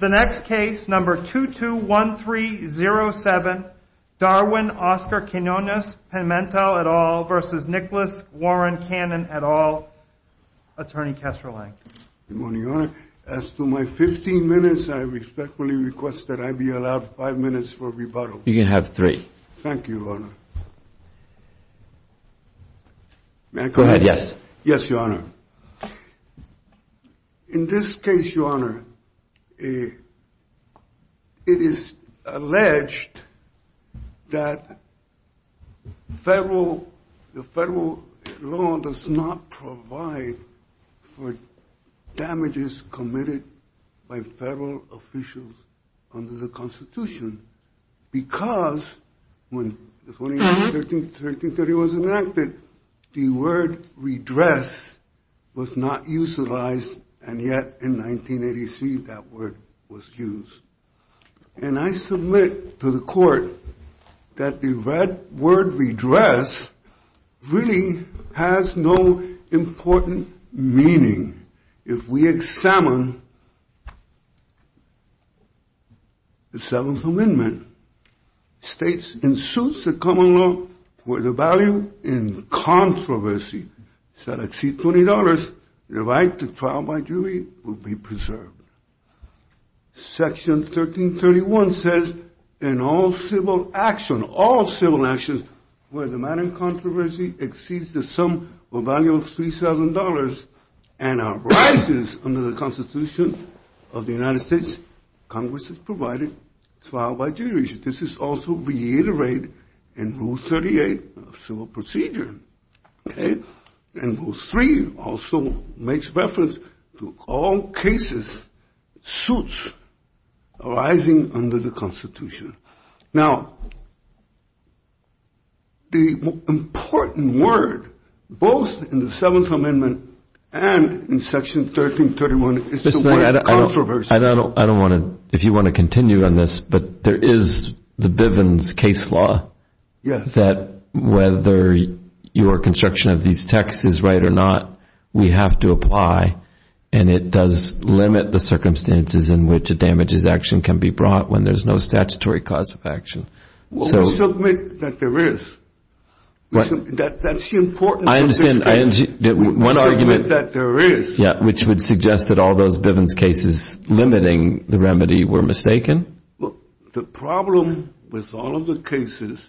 The next case, number 221307, Darwin-Oscar Quinones-Pimentel v. Nicholas Warren-Cannon et al., Attorney Kessler-Lang Good morning, Your Honor. As to my 15 minutes, I respectfully request that I be allowed five minutes for rebuttal. You can have three. Thank you, Your Honor. In this case, Your Honor, it is alleged that the federal law does not provide for damages committed by federal officials under the Constitution because when 21313 was enacted, the word redress was not utilized, and yet in 1983 that word was used. And I submit to the court that the red word redress really has no important meaning. If we examine the Seventh Amendment, states in suits that come along where the value in controversy shall exceed $20, the right to trial by jury will be preserved. Section 1331 says in all civil actions where the matter of controversy exceeds the sum or value of $3,000 and arises under the Constitution of the United States, Congress is provided trial by jury. This is also reiterated in Rule 38 of civil procedure. And Rule 3 also makes reference to all cases, suits arising under the Constitution. Now, the important word, both in the Seventh Amendment and in Section 1331, is the word controversy. I don't know if you want to continue on this, but there is the Bivens case law that whether your construction of these texts is right or not, we have to apply and it does limit the circumstances in which a damages action can be brought when there's no statutory cause of action. We'll submit that there is. That's the importance of this case. I understand. One argument that there is, which would suggest that all those Bivens cases limiting the remedy were mistaken. Well, the problem with all of the cases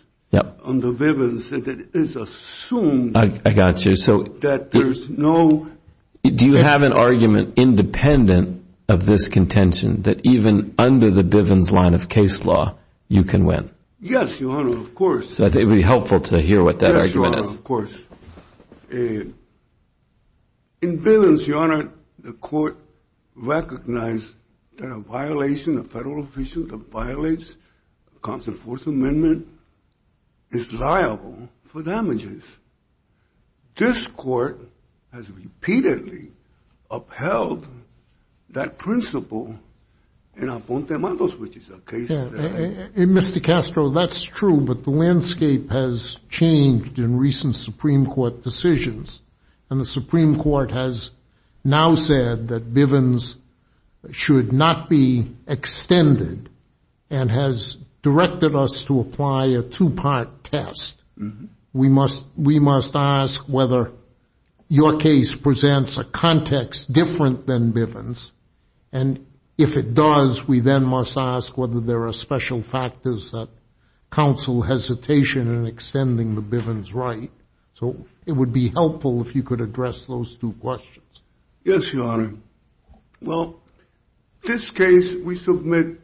under Bivens is that it is assumed that there's no... Yes, Your Honor, of course. So I think it would be helpful to hear what that argument is. Yes, Your Honor, of course. In Bivens, Your Honor, the court recognized that a violation, a federal official that violates a constant Fourth Amendment is liable for damages. This court has repeatedly upheld that principle in Aponte Matos, which is a case that... Mr. Castro, that's true, but the landscape has changed in recent Supreme Court decisions. And the Supreme Court has now said that Bivens should not be extended and has directed us to apply a two part test. We must we must ask whether your case presents a context different than Bivens. And if it does, we then must ask whether there are special factors that counsel hesitation in extending the Bivens right. So it would be helpful if you could address those two questions. Yes, Your Honor. Well, this case, we submit,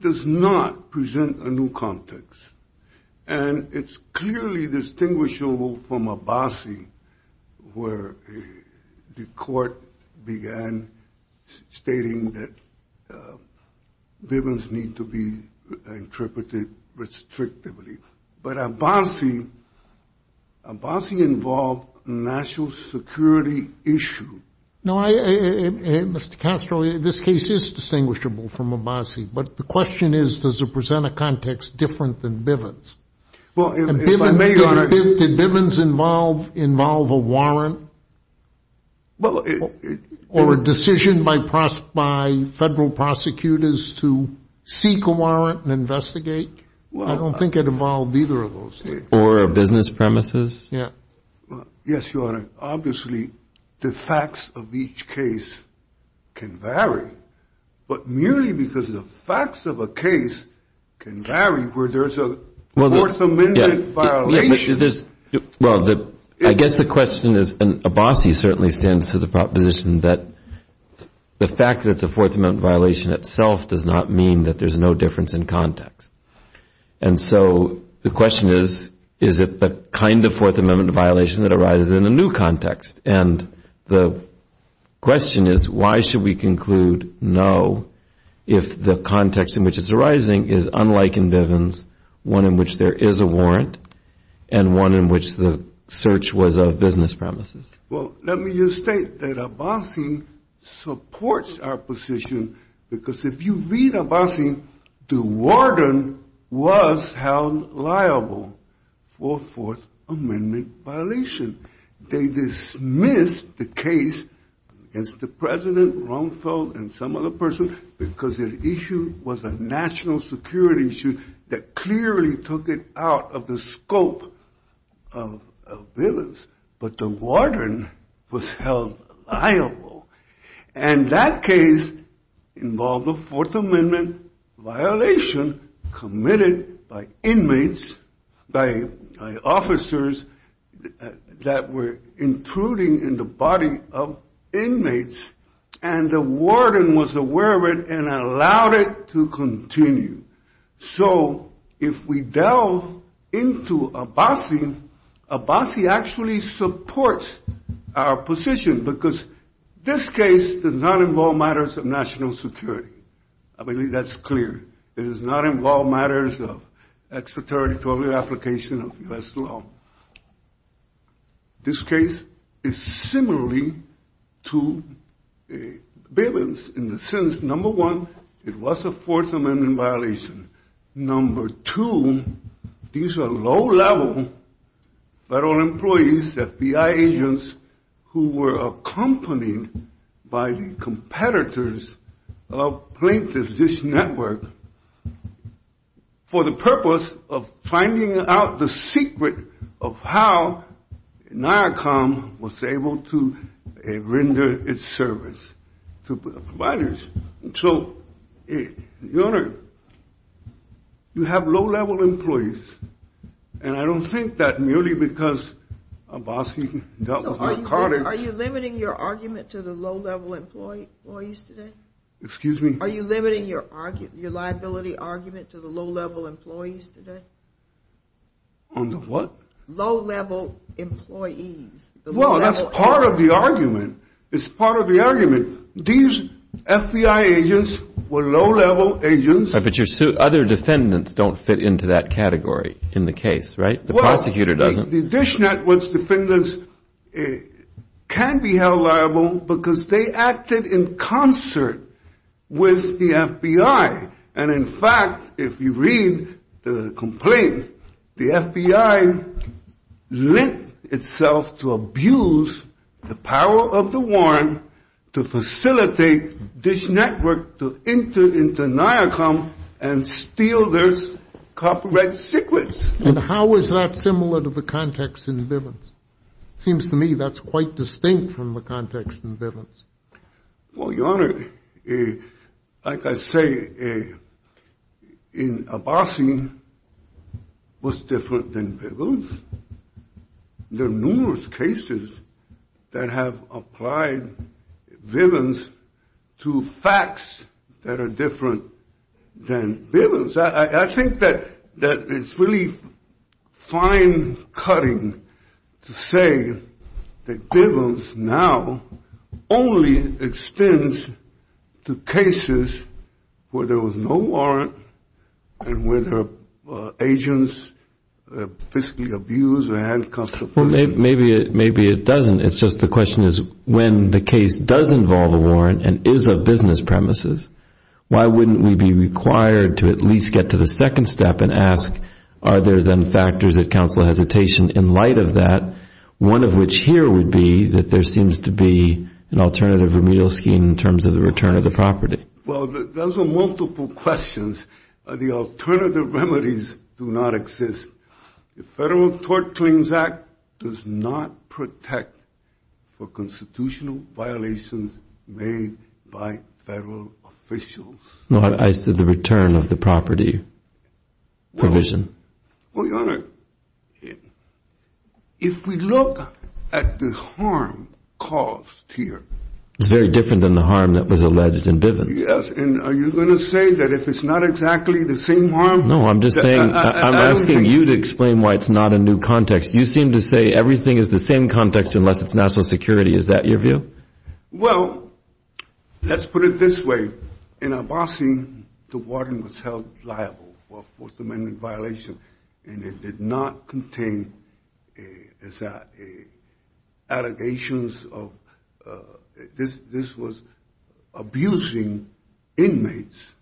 does not present a new context. And it's clearly distinguishable from Abbasi where the court began stating that Bivens need to be interpreted restrictively. But Abbasi, Abbasi involved national security issue. No, Mr. Castro, this case is distinguishable from Abbasi. But the question is, does it present a context different than Bivens? Well, if I may, Your Honor, did Bivens involve involve a warrant or a decision by federal prosecutors to seek a warrant and investigate? Well, I don't think it involved either of those or a business premises. Yes, Your Honor. Obviously, the facts of each case can vary, but merely because the facts of a case can vary where there's a fourth amendment violation. Well, I guess the question is, and Abbasi certainly stands to the proposition that the fact that it's a fourth amendment violation itself does not mean that there's no difference in context. And so the question is, is it the kind of fourth amendment violation that arises in a new context? And the question is, why should we conclude no if the context in which it's arising is unlike in Bivens, one in which there is a warrant and one in which the search was of business premises? Well, let me just state that Abbasi supports our position because if you read Abbasi, the warden was held liable for a fourth amendment violation. They dismissed the case against the president, Rumfeld, and some other person because the issue was a national security issue that clearly took it out of the scope of Bivens. But the warden was held liable. And that case involved a fourth amendment violation committed by inmates, by officers that were intruding in the body of inmates. And the warden was aware of it and allowed it to continue. So if we delve into Abbasi, Abbasi actually supports our position because this case does not involve matters of national security. I believe that's clear. It does not involve matters of extraterritorial application of U.S. law. This case is similarly to Bivens in the sense, number one, it was a fourth amendment violation. Number two, these are low-level federal employees, FBI agents, who were accompanied by the competitors of plaintiff's network for the purpose of finding out the secret of how NIACOM was able to render its service to providers. So, your honor, you have low-level employees, and I don't think that merely because Abbasi dealt with McCarty. Are you limiting your argument to the low-level employees today? Excuse me? Are you limiting your liability argument to the low-level employees today? On the what? Low-level employees. Well, that's part of the argument. It's part of the argument. These FBI agents were low-level agents. But your other defendants don't fit into that category in the case, right? The prosecutor doesn't. The Dish Network's defendants can be held liable because they acted in concert with the FBI. And, in fact, if you read the complaint, the FBI lent itself to abuse the power of the Warren to facilitate Dish Network to enter into NIACOM and steal their copyright secrets. And how is that similar to the context in Bivens? It seems to me that's quite distinct from the context in Bivens. Well, your honor, like I say, Abbasi was different than Bivens. There are numerous cases that have applied Bivens to facts that are different than Bivens. I think that it's really fine-cutting to say that Bivens now only extends to cases where there was no warrant and where their agents physically abused or handcuffed the person. Well, maybe it doesn't. It's just the question is when the case does involve a warrant and is of business premises, why wouldn't we be required to at least get to the second step and ask, are there then factors that counsel hesitation in light of that, one of which here would be that there seems to be an alternative remedial scheme in terms of the return of the property? Well, those are multiple questions. The alternative remedies do not exist. The Federal Tort Claims Act does not protect for constitutional violations made by federal officials. I said the return of the property provision. Well, your honor, if we look at the harm caused here. It's very different than the harm that was alleged in Bivens. Yes, and are you going to say that if it's not exactly the same harm? I'm asking you to explain why it's not a new context. You seem to say everything is the same context unless it's national security. Is that your view? Well, let's put it this way. In Abbasi, the warden was held liable for a Fourth Amendment violation, and it did not contain allegations of this was abusing inmates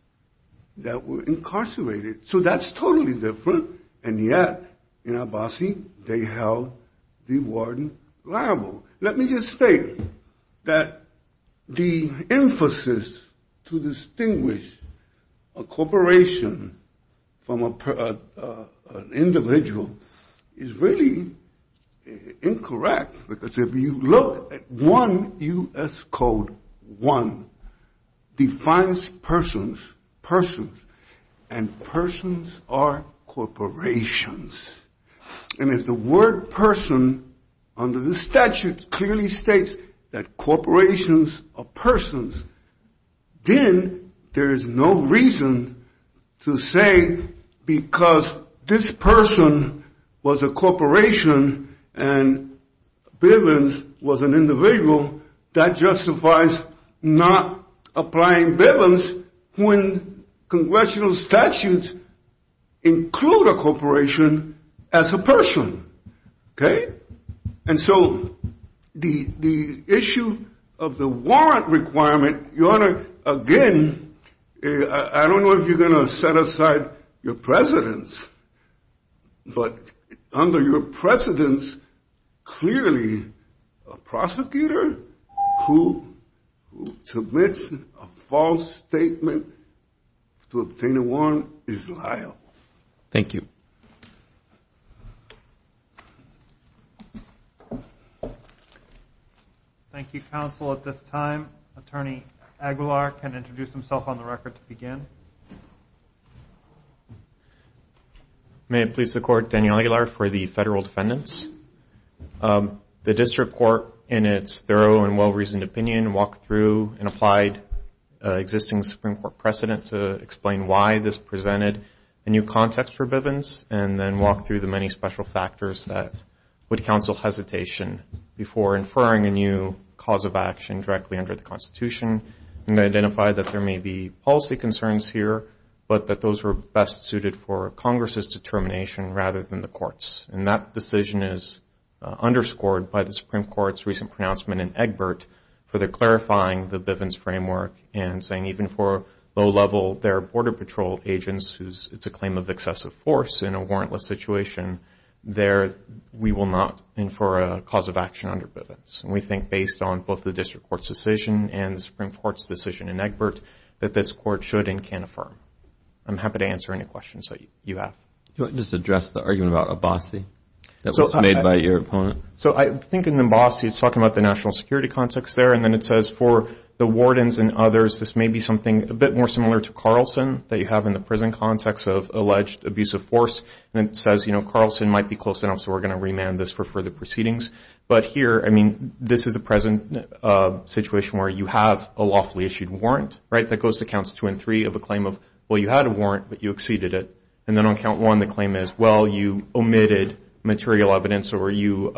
that were incarcerated. So that's totally different, and yet in Abbasi, they held the warden liable. Let me just state that the emphasis to distinguish a corporation from an individual is really incorrect. Because if you look at 1 U.S. Code 1 defines persons, persons, and persons are corporations. And if the word person under the statute clearly states that corporations are persons, then there is no reason to say because this person was a corporation and Bivens was an individual, that justifies not applying Bivens when congressional statutes include a corporation as a person. And so the issue of the warrant requirement. Your Honor, again, I don't know if you're going to set aside your precedence, but under your precedence, clearly a prosecutor who submits a false statement to obtain a warrant is liable. Thank you. Thank you, Counsel. At this time, Attorney Aguilar can introduce himself on the record to begin. May it please the Court, Daniel Aguilar for the Federal Defendants. The District Court, in its thorough and well-reasoned opinion, and applied existing Supreme Court precedent to explain why this presented a new context for Bivens, and then walk through the many special factors that would counsel hesitation before inferring a new cause of action directly under the Constitution, and identify that there may be policy concerns here, but that those were best suited for Congress's determination rather than the Court's. And that decision is underscored by the Supreme Court's recent pronouncement in Egbert for their clarifying the Bivens framework and saying even for low-level, their Border Patrol agents, whose it's a claim of excessive force in a warrantless situation, there we will not infer a cause of action under Bivens. And we think based on both the District Court's decision and the Supreme Court's decision in Egbert that this Court should and can affirm. I'm happy to answer any questions that you have. Do you want to just address the argument about Abbasi that was made by your opponent? So I think in Abbasi, it's talking about the national security context there, and then it says for the wardens and others, this may be something a bit more similar to Carlson that you have in the prison context of alleged abuse of force. And it says, you know, Carlson might be close enough, so we're going to remand this for further proceedings. But here, I mean, this is a present situation where you have a lawfully issued warrant, right? That goes to counts two and three of a claim of, well, you had a warrant, but you exceeded it. And then on count one, the claim is, well, you omitted material evidence or you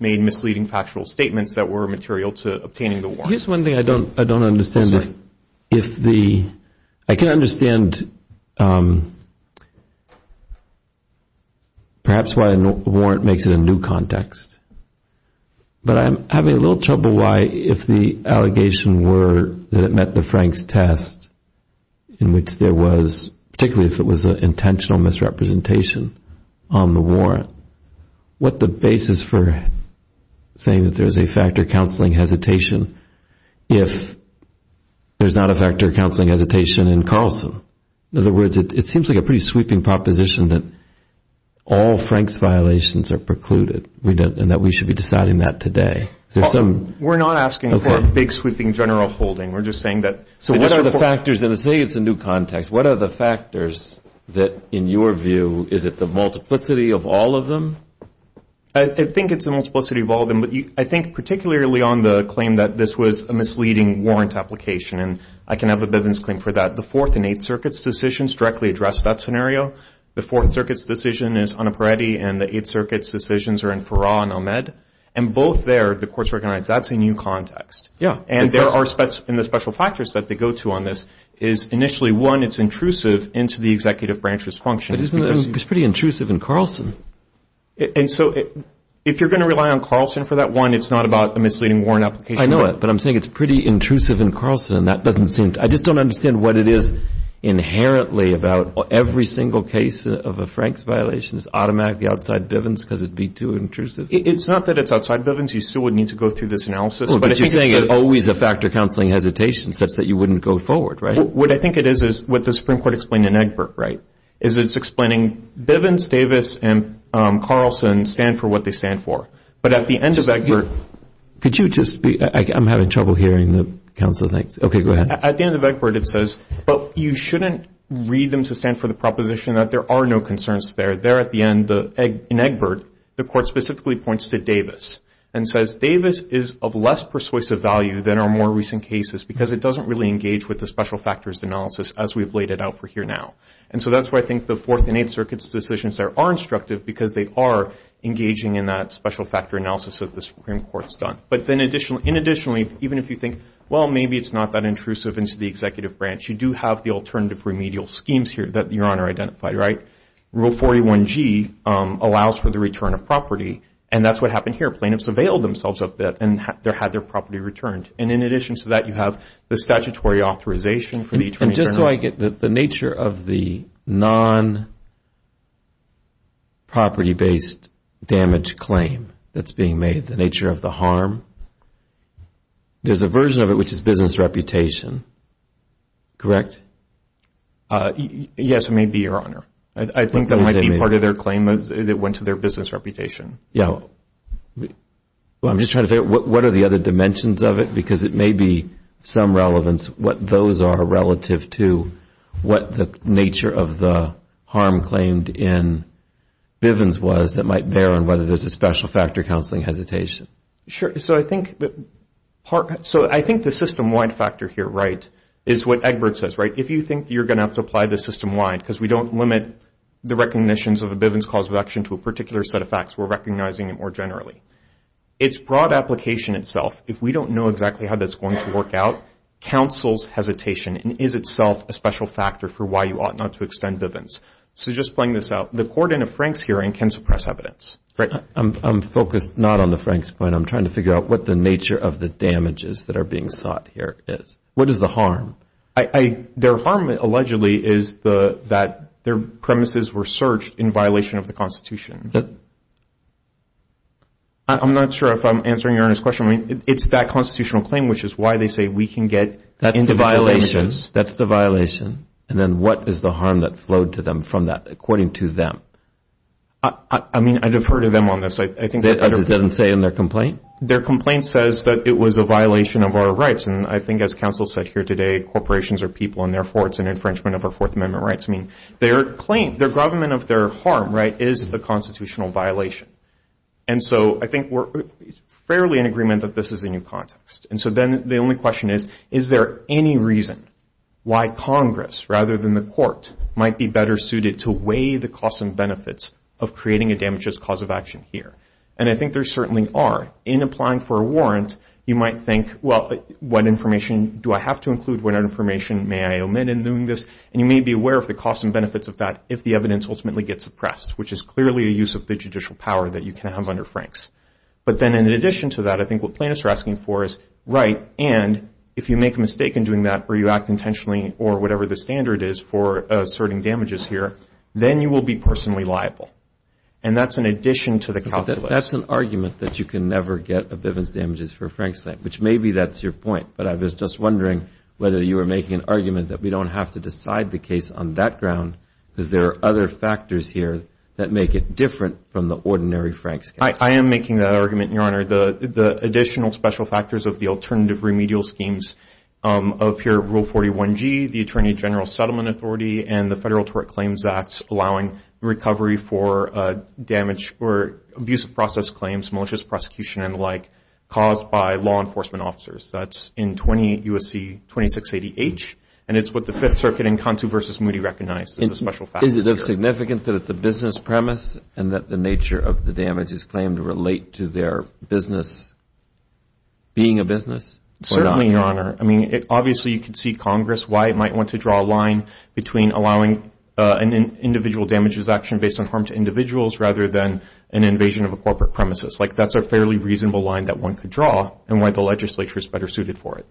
made misleading factual statements that were material to obtaining the warrant. Here's one thing I don't understand. I'm sorry. I can understand perhaps why a warrant makes it a new context. But I'm having a little trouble why if the allegation were that it met the Frank's test, in which there was, particularly if it was an intentional misrepresentation on the warrant, what the basis for saying that there's a factor of counseling hesitation if there's not a factor of counseling hesitation in Carlson? In other words, it seems like a pretty sweeping proposition that all Frank's violations are precluded and that we should be deciding that today. We're not asking for a big sweeping general holding. We're just saying that they just report. So what are the factors? And say it's a new context. What are the factors that, in your view, is it the multiplicity of all of them? I think it's the multiplicity of all of them. But I think particularly on the claim that this was a misleading warrant application, and I can have a Bivens claim for that. The Fourth and Eighth Circuit's decisions directly address that scenario. The Fourth Circuit's decision is on Aparetti, and the Eighth Circuit's decisions are in Farrar and Ahmed. And both there, the courts recognize that's a new context. Yeah. And there are special factors that they go to on this. Initially, one, it's intrusive into the executive branch's function. It's pretty intrusive in Carlson. And so if you're going to rely on Carlson for that, one, it's not about a misleading warrant application. I know it, but I'm saying it's pretty intrusive in Carlson. I just don't understand what it is inherently about every single case of a Frank's violation is automatically outside Bivens because it would be too intrusive. It's not that it's outside Bivens. You still would need to go through this analysis. But you're saying it's always a factor counseling hesitation such that you wouldn't go forward, right? What I think it is is what the Supreme Court explained in Egbert, right, is it's explaining Bivens, Davis, and Carlson stand for what they stand for. But at the end of Egbert. Could you just be – I'm having trouble hearing the counsel things. Okay, go ahead. At the end of Egbert, it says, well, you shouldn't read them to stand for the proposition that there are no concerns there. And says Davis is of less persuasive value than our more recent cases because it doesn't really engage with the special factors analysis as we've laid it out for here now. And so that's why I think the Fourth and Eighth Circuit's decisions are instructive because they are engaging in that special factor analysis that the Supreme Court's done. But then in addition, even if you think, well, maybe it's not that intrusive into the executive branch, you do have the alternative remedial schemes here that Your Honor identified, right? Rule 41G allows for the return of property, and that's what happened here. Plaintiffs availed themselves of that and had their property returned. And in addition to that, you have the statutory authorization for the attorney general. And just so I get the nature of the non-property-based damage claim that's being made, the nature of the harm, there's a version of it which is business reputation, correct? Yes, it may be, Your Honor. I think that might be part of their claim that went to their business reputation. Yeah. Well, I'm just trying to figure out what are the other dimensions of it because it may be some relevance, what those are relative to what the nature of the harm claimed in Bivens was that might bear on whether there's a special factor counseling hesitation. Sure. So I think the system-wide factor here, right, is what Egbert says, right? If you think you're going to have to apply this system-wide because we don't limit the recognitions of a Bivens cause of action to a particular set of facts, we're recognizing it more generally. Its broad application itself, if we don't know exactly how that's going to work out, counsels hesitation and is itself a special factor for why you ought not to extend Bivens. So just playing this out, the court in a Franks hearing can suppress evidence, right? I'm focused not on the Franks point. I'm trying to figure out what the nature of the damages that are being sought here is. What is the harm? Their harm allegedly is that their premises were searched in violation of the Constitution. I'm not sure if I'm answering your earnest question. I mean, it's that constitutional claim which is why they say we can get into violations. That's the violation. And then what is the harm that flowed to them from that according to them? I mean, I defer to them on this. I think I understand. That doesn't say in their complaint? Their complaint says that it was a violation of our rights. And I think as counsel said here today, corporations are people, and therefore it's an infringement of our Fourth Amendment rights. I mean, their claim, their government of their harm, right, is the constitutional violation. And so I think we're fairly in agreement that this is a new context. And so then the only question is, is there any reason why Congress rather than the court might be better suited to weigh the costs and benefits of creating a damages cause of action here? And I think there certainly are. In applying for a warrant, you might think, well, what information do I have to include? What information may I omit in doing this? And you may be aware of the costs and benefits of that if the evidence ultimately gets suppressed, which is clearly a use of the judicial power that you can have under Franks. But then in addition to that, I think what plaintiffs are asking for is, right, and if you make a mistake in doing that or you act intentionally or whatever the standard is for asserting damages here, then you will be personally liable. And that's in addition to the calculation. That's an argument that you can never get a Bivens damages for a Franks claim, which maybe that's your point. But I was just wondering whether you were making an argument that we don't have to decide the case on that ground because there are other factors here that make it different from the ordinary Franks case. I am making that argument, Your Honor. The additional special factors of the alternative remedial schemes appear in Rule 41G, the Attorney General Settlement Authority, and the Federal Tort Claims Act, allowing recovery for damage or abuse of process claims, malicious prosecution and the like, caused by law enforcement officers. That's in 20 U.S.C. 2680H. And it's what the Fifth Circuit in Conto v. Moody recognized as a special factor. Is it of significance that it's a business premise and that the nature of the damages claimed relate to their business being a business? Certainly, Your Honor. I mean, obviously you can see Congress, why it might want to draw a line between allowing an individual damages action based on harm to individuals rather than an invasion of a corporate premises. Like, that's a fairly reasonable line that one could draw and why the legislature is better suited for it.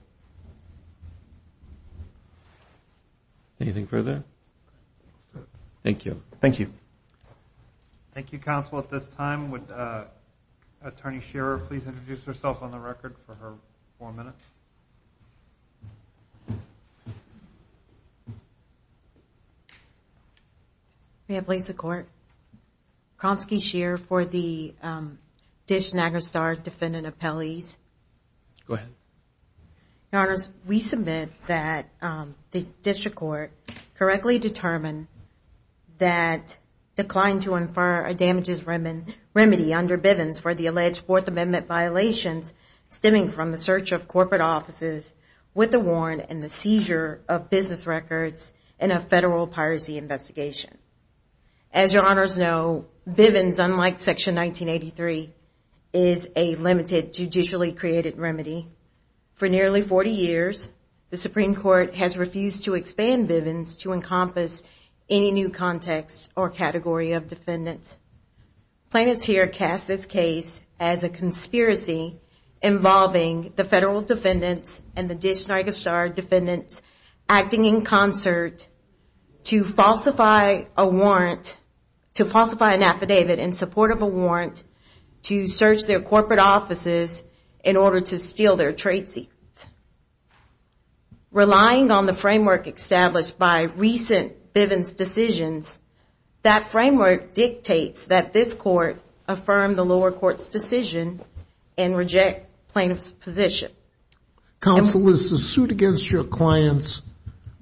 Anything further? Thank you. Thank you. Thank you, counsel. At this time, would Attorney Shearer please introduce herself on the record for her four minutes? May I please the court? Kronsky Shearer for the Dish-Nagostar Defendant Appellees. Go ahead. Your Honors, we submit that the district court correctly determined that declined to infer a damages remedy under Bivens for the alleged Fourth Amendment violations stemming from the search of corporate offices with a warrant and the seizure of business records in a federal piracy investigation. As Your Honors know, Bivens, unlike Section 1983, is a limited judicially created remedy. For nearly 40 years, the Supreme Court has refused to expand Bivens to encompass any new context or category of defendants. Plaintiffs here cast this case as a conspiracy involving the federal defendants and the Dish-Nagostar defendants acting in concert to falsify a warrant, to falsify an affidavit in support of a warrant to search their corporate offices in order to steal their trade secrets. Relying on the framework established by recent Bivens decisions, that framework dictates that this court affirm the lower court's decision and reject plaintiffs' position. Counsel, is the suit against your clients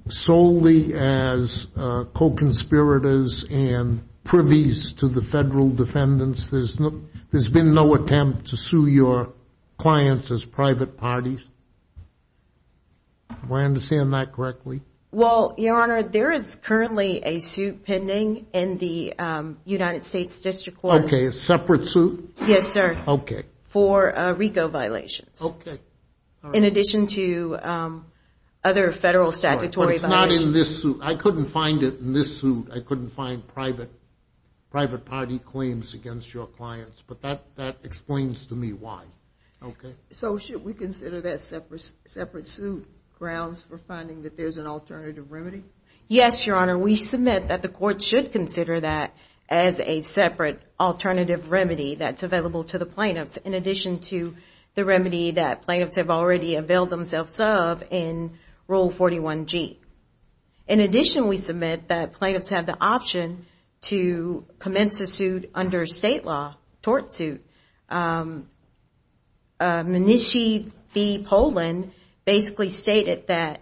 solely as co-conspirators and privies to the federal defendants? There's been no attempt to sue your clients as private parties? Do I understand that correctly? Well, Your Honor, there is currently a suit pending in the United States District Court. Okay, a separate suit? Yes, sir. Okay. For RICO violations. Okay. In addition to other federal statutory violations. But it's not in this suit. I couldn't find it in this suit. I couldn't find private party claims against your clients. But that explains to me why. Okay. So should we consider that separate suit grounds for finding that there's an alternative remedy? Yes, Your Honor. We submit that the court should consider that as a separate alternative remedy that's available to the plaintiffs in addition to the remedy that plaintiffs have already availed themselves of in Rule 41G. In addition, we submit that plaintiffs have the option to commence a suit under state law, state tort suit. Mnuchin v. Poland basically stated that,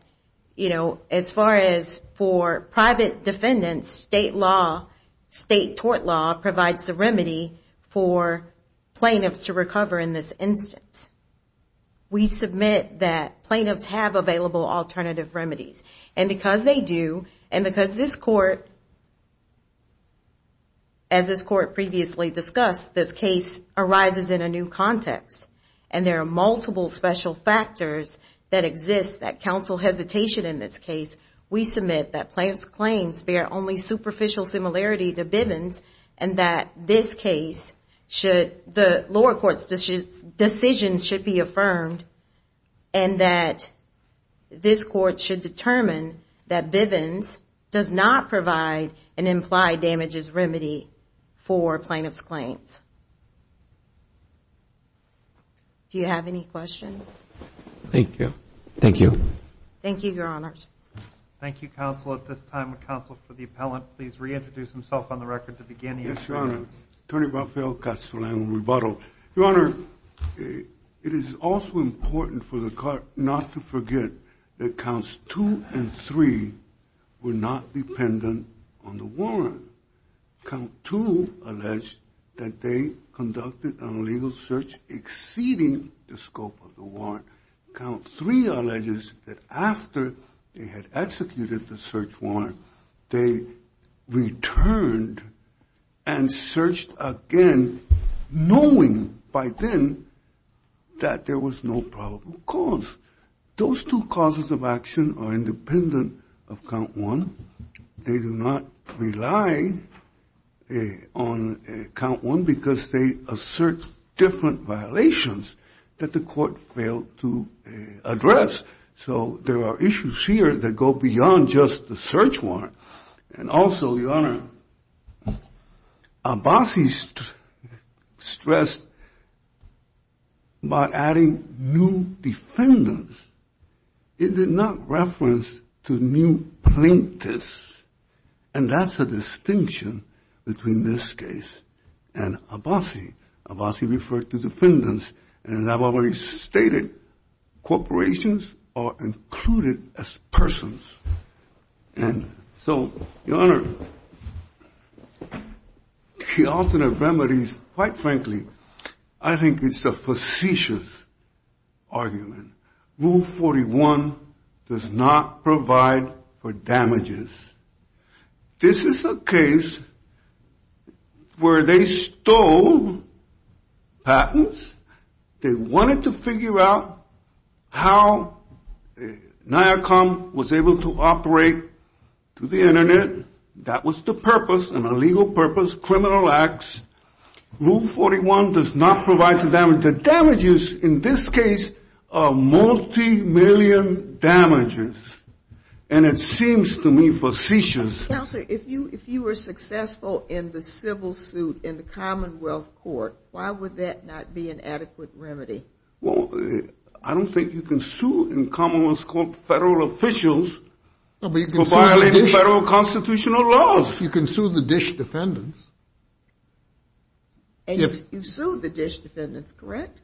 you know, as far as for private defendants, state law, state tort law provides the remedy for plaintiffs to recover in this instance. We submit that plaintiffs have available alternative remedies. As this court previously discussed, this case arises in a new context. And there are multiple special factors that exist that counsel hesitation in this case. We submit that plaintiffs' claims bear only superficial similarity to Bivens and that this case should, the lower court's decision should be affirmed and that this court should determine that Bivens does not provide an implied damages remedy for plaintiffs' claims. Do you have any questions? Thank you. Thank you. Thank you, Your Honors. Thank you, counsel. At this time, would counsel for the appellant please reintroduce himself on the record to begin? Yes, Your Honor. Tony Raffael, Counseling and Rebuttal. Your Honor, it is also important for the court not to forget that counts two and three were not dependent on the warrant. Count two alleged that they conducted an illegal search exceeding the scope of the warrant. Count three alleges that after they had executed the search warrant, they returned and searched again knowing by then that there was no probable cause. Those two causes of action are independent of count one. They do not rely on count one because they assert different violations that the court failed to address. So there are issues here that go beyond just the search warrant. And also, Your Honor, Abbasi stressed by adding new defendants, it did not reference to new plaintiffs, and that's a distinction between this case and Abbasi. Abbasi referred to defendants, and as I've already stated, corporations are included as persons. And so, Your Honor, the alternate remedies, quite frankly, I think it's a facetious argument. Rule 41 does not provide for damages. This is a case where they stole patents. They wanted to figure out how NIACOM was able to operate through the Internet. That was the purpose, an illegal purpose, criminal acts. Rule 41 does not provide for damages. And the damages in this case are multi-million damages, and it seems to me facetious. Counsel, if you were successful in the civil suit in the Commonwealth Court, why would that not be an adequate remedy? Well, I don't think you can sue in Commonwealth Court federal officials for violating federal constitutional laws. You can sue the dish defendants. And you've sued the dish defendants, correct?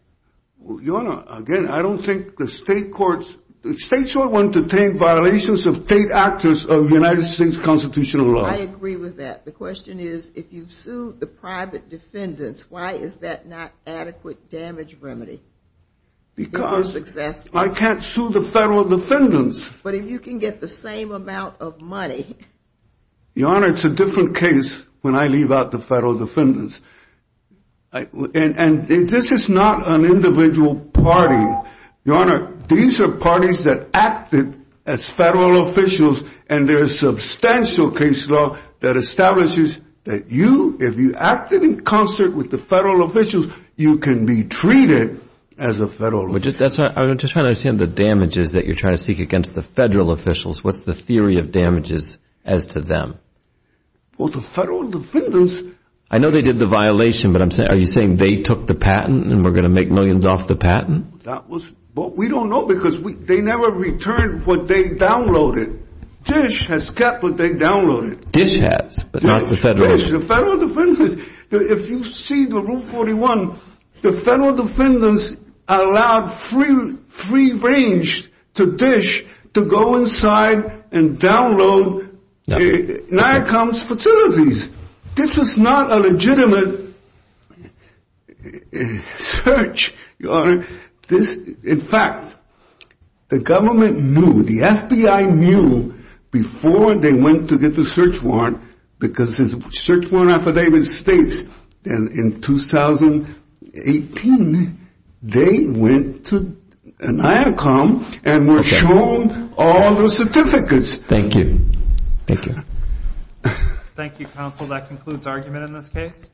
Your Honor, again, I don't think the state courts, the states don't want to detain violations of state actors of United States constitutional laws. I agree with that. The question is, if you've sued the private defendants, why is that not an adequate damage remedy? Because I can't sue the federal defendants. But if you can get the same amount of money... Your Honor, it's a different case when I leave out the federal defendants. And this is not an individual party. Your Honor, these are parties that acted as federal officials, and there is substantial case law that establishes that you, if you acted in concert with the federal officials, you can be treated as a federal official. I'm just trying to understand the damages that you're trying to seek against the federal officials. What's the theory of damages as to them? Well, the federal defendants... I know they did the violation, but are you saying they took the patent and we're going to make millions off the patent? We don't know, because they never returned what they downloaded. Dish has kept what they downloaded. Dish has, but not the federal officials. If you see the Rule 41, the federal defendants allowed free range to Dish to go inside and download Niacom's facilities. This is not a legitimate search, Your Honor. In fact, the government knew, the FBI knew, before they went to get the search warrant, because the search warrant affidavit states that in 2018 they went to Niacom and were shown all the certificates. Thank you, counsel. That concludes argument in this case.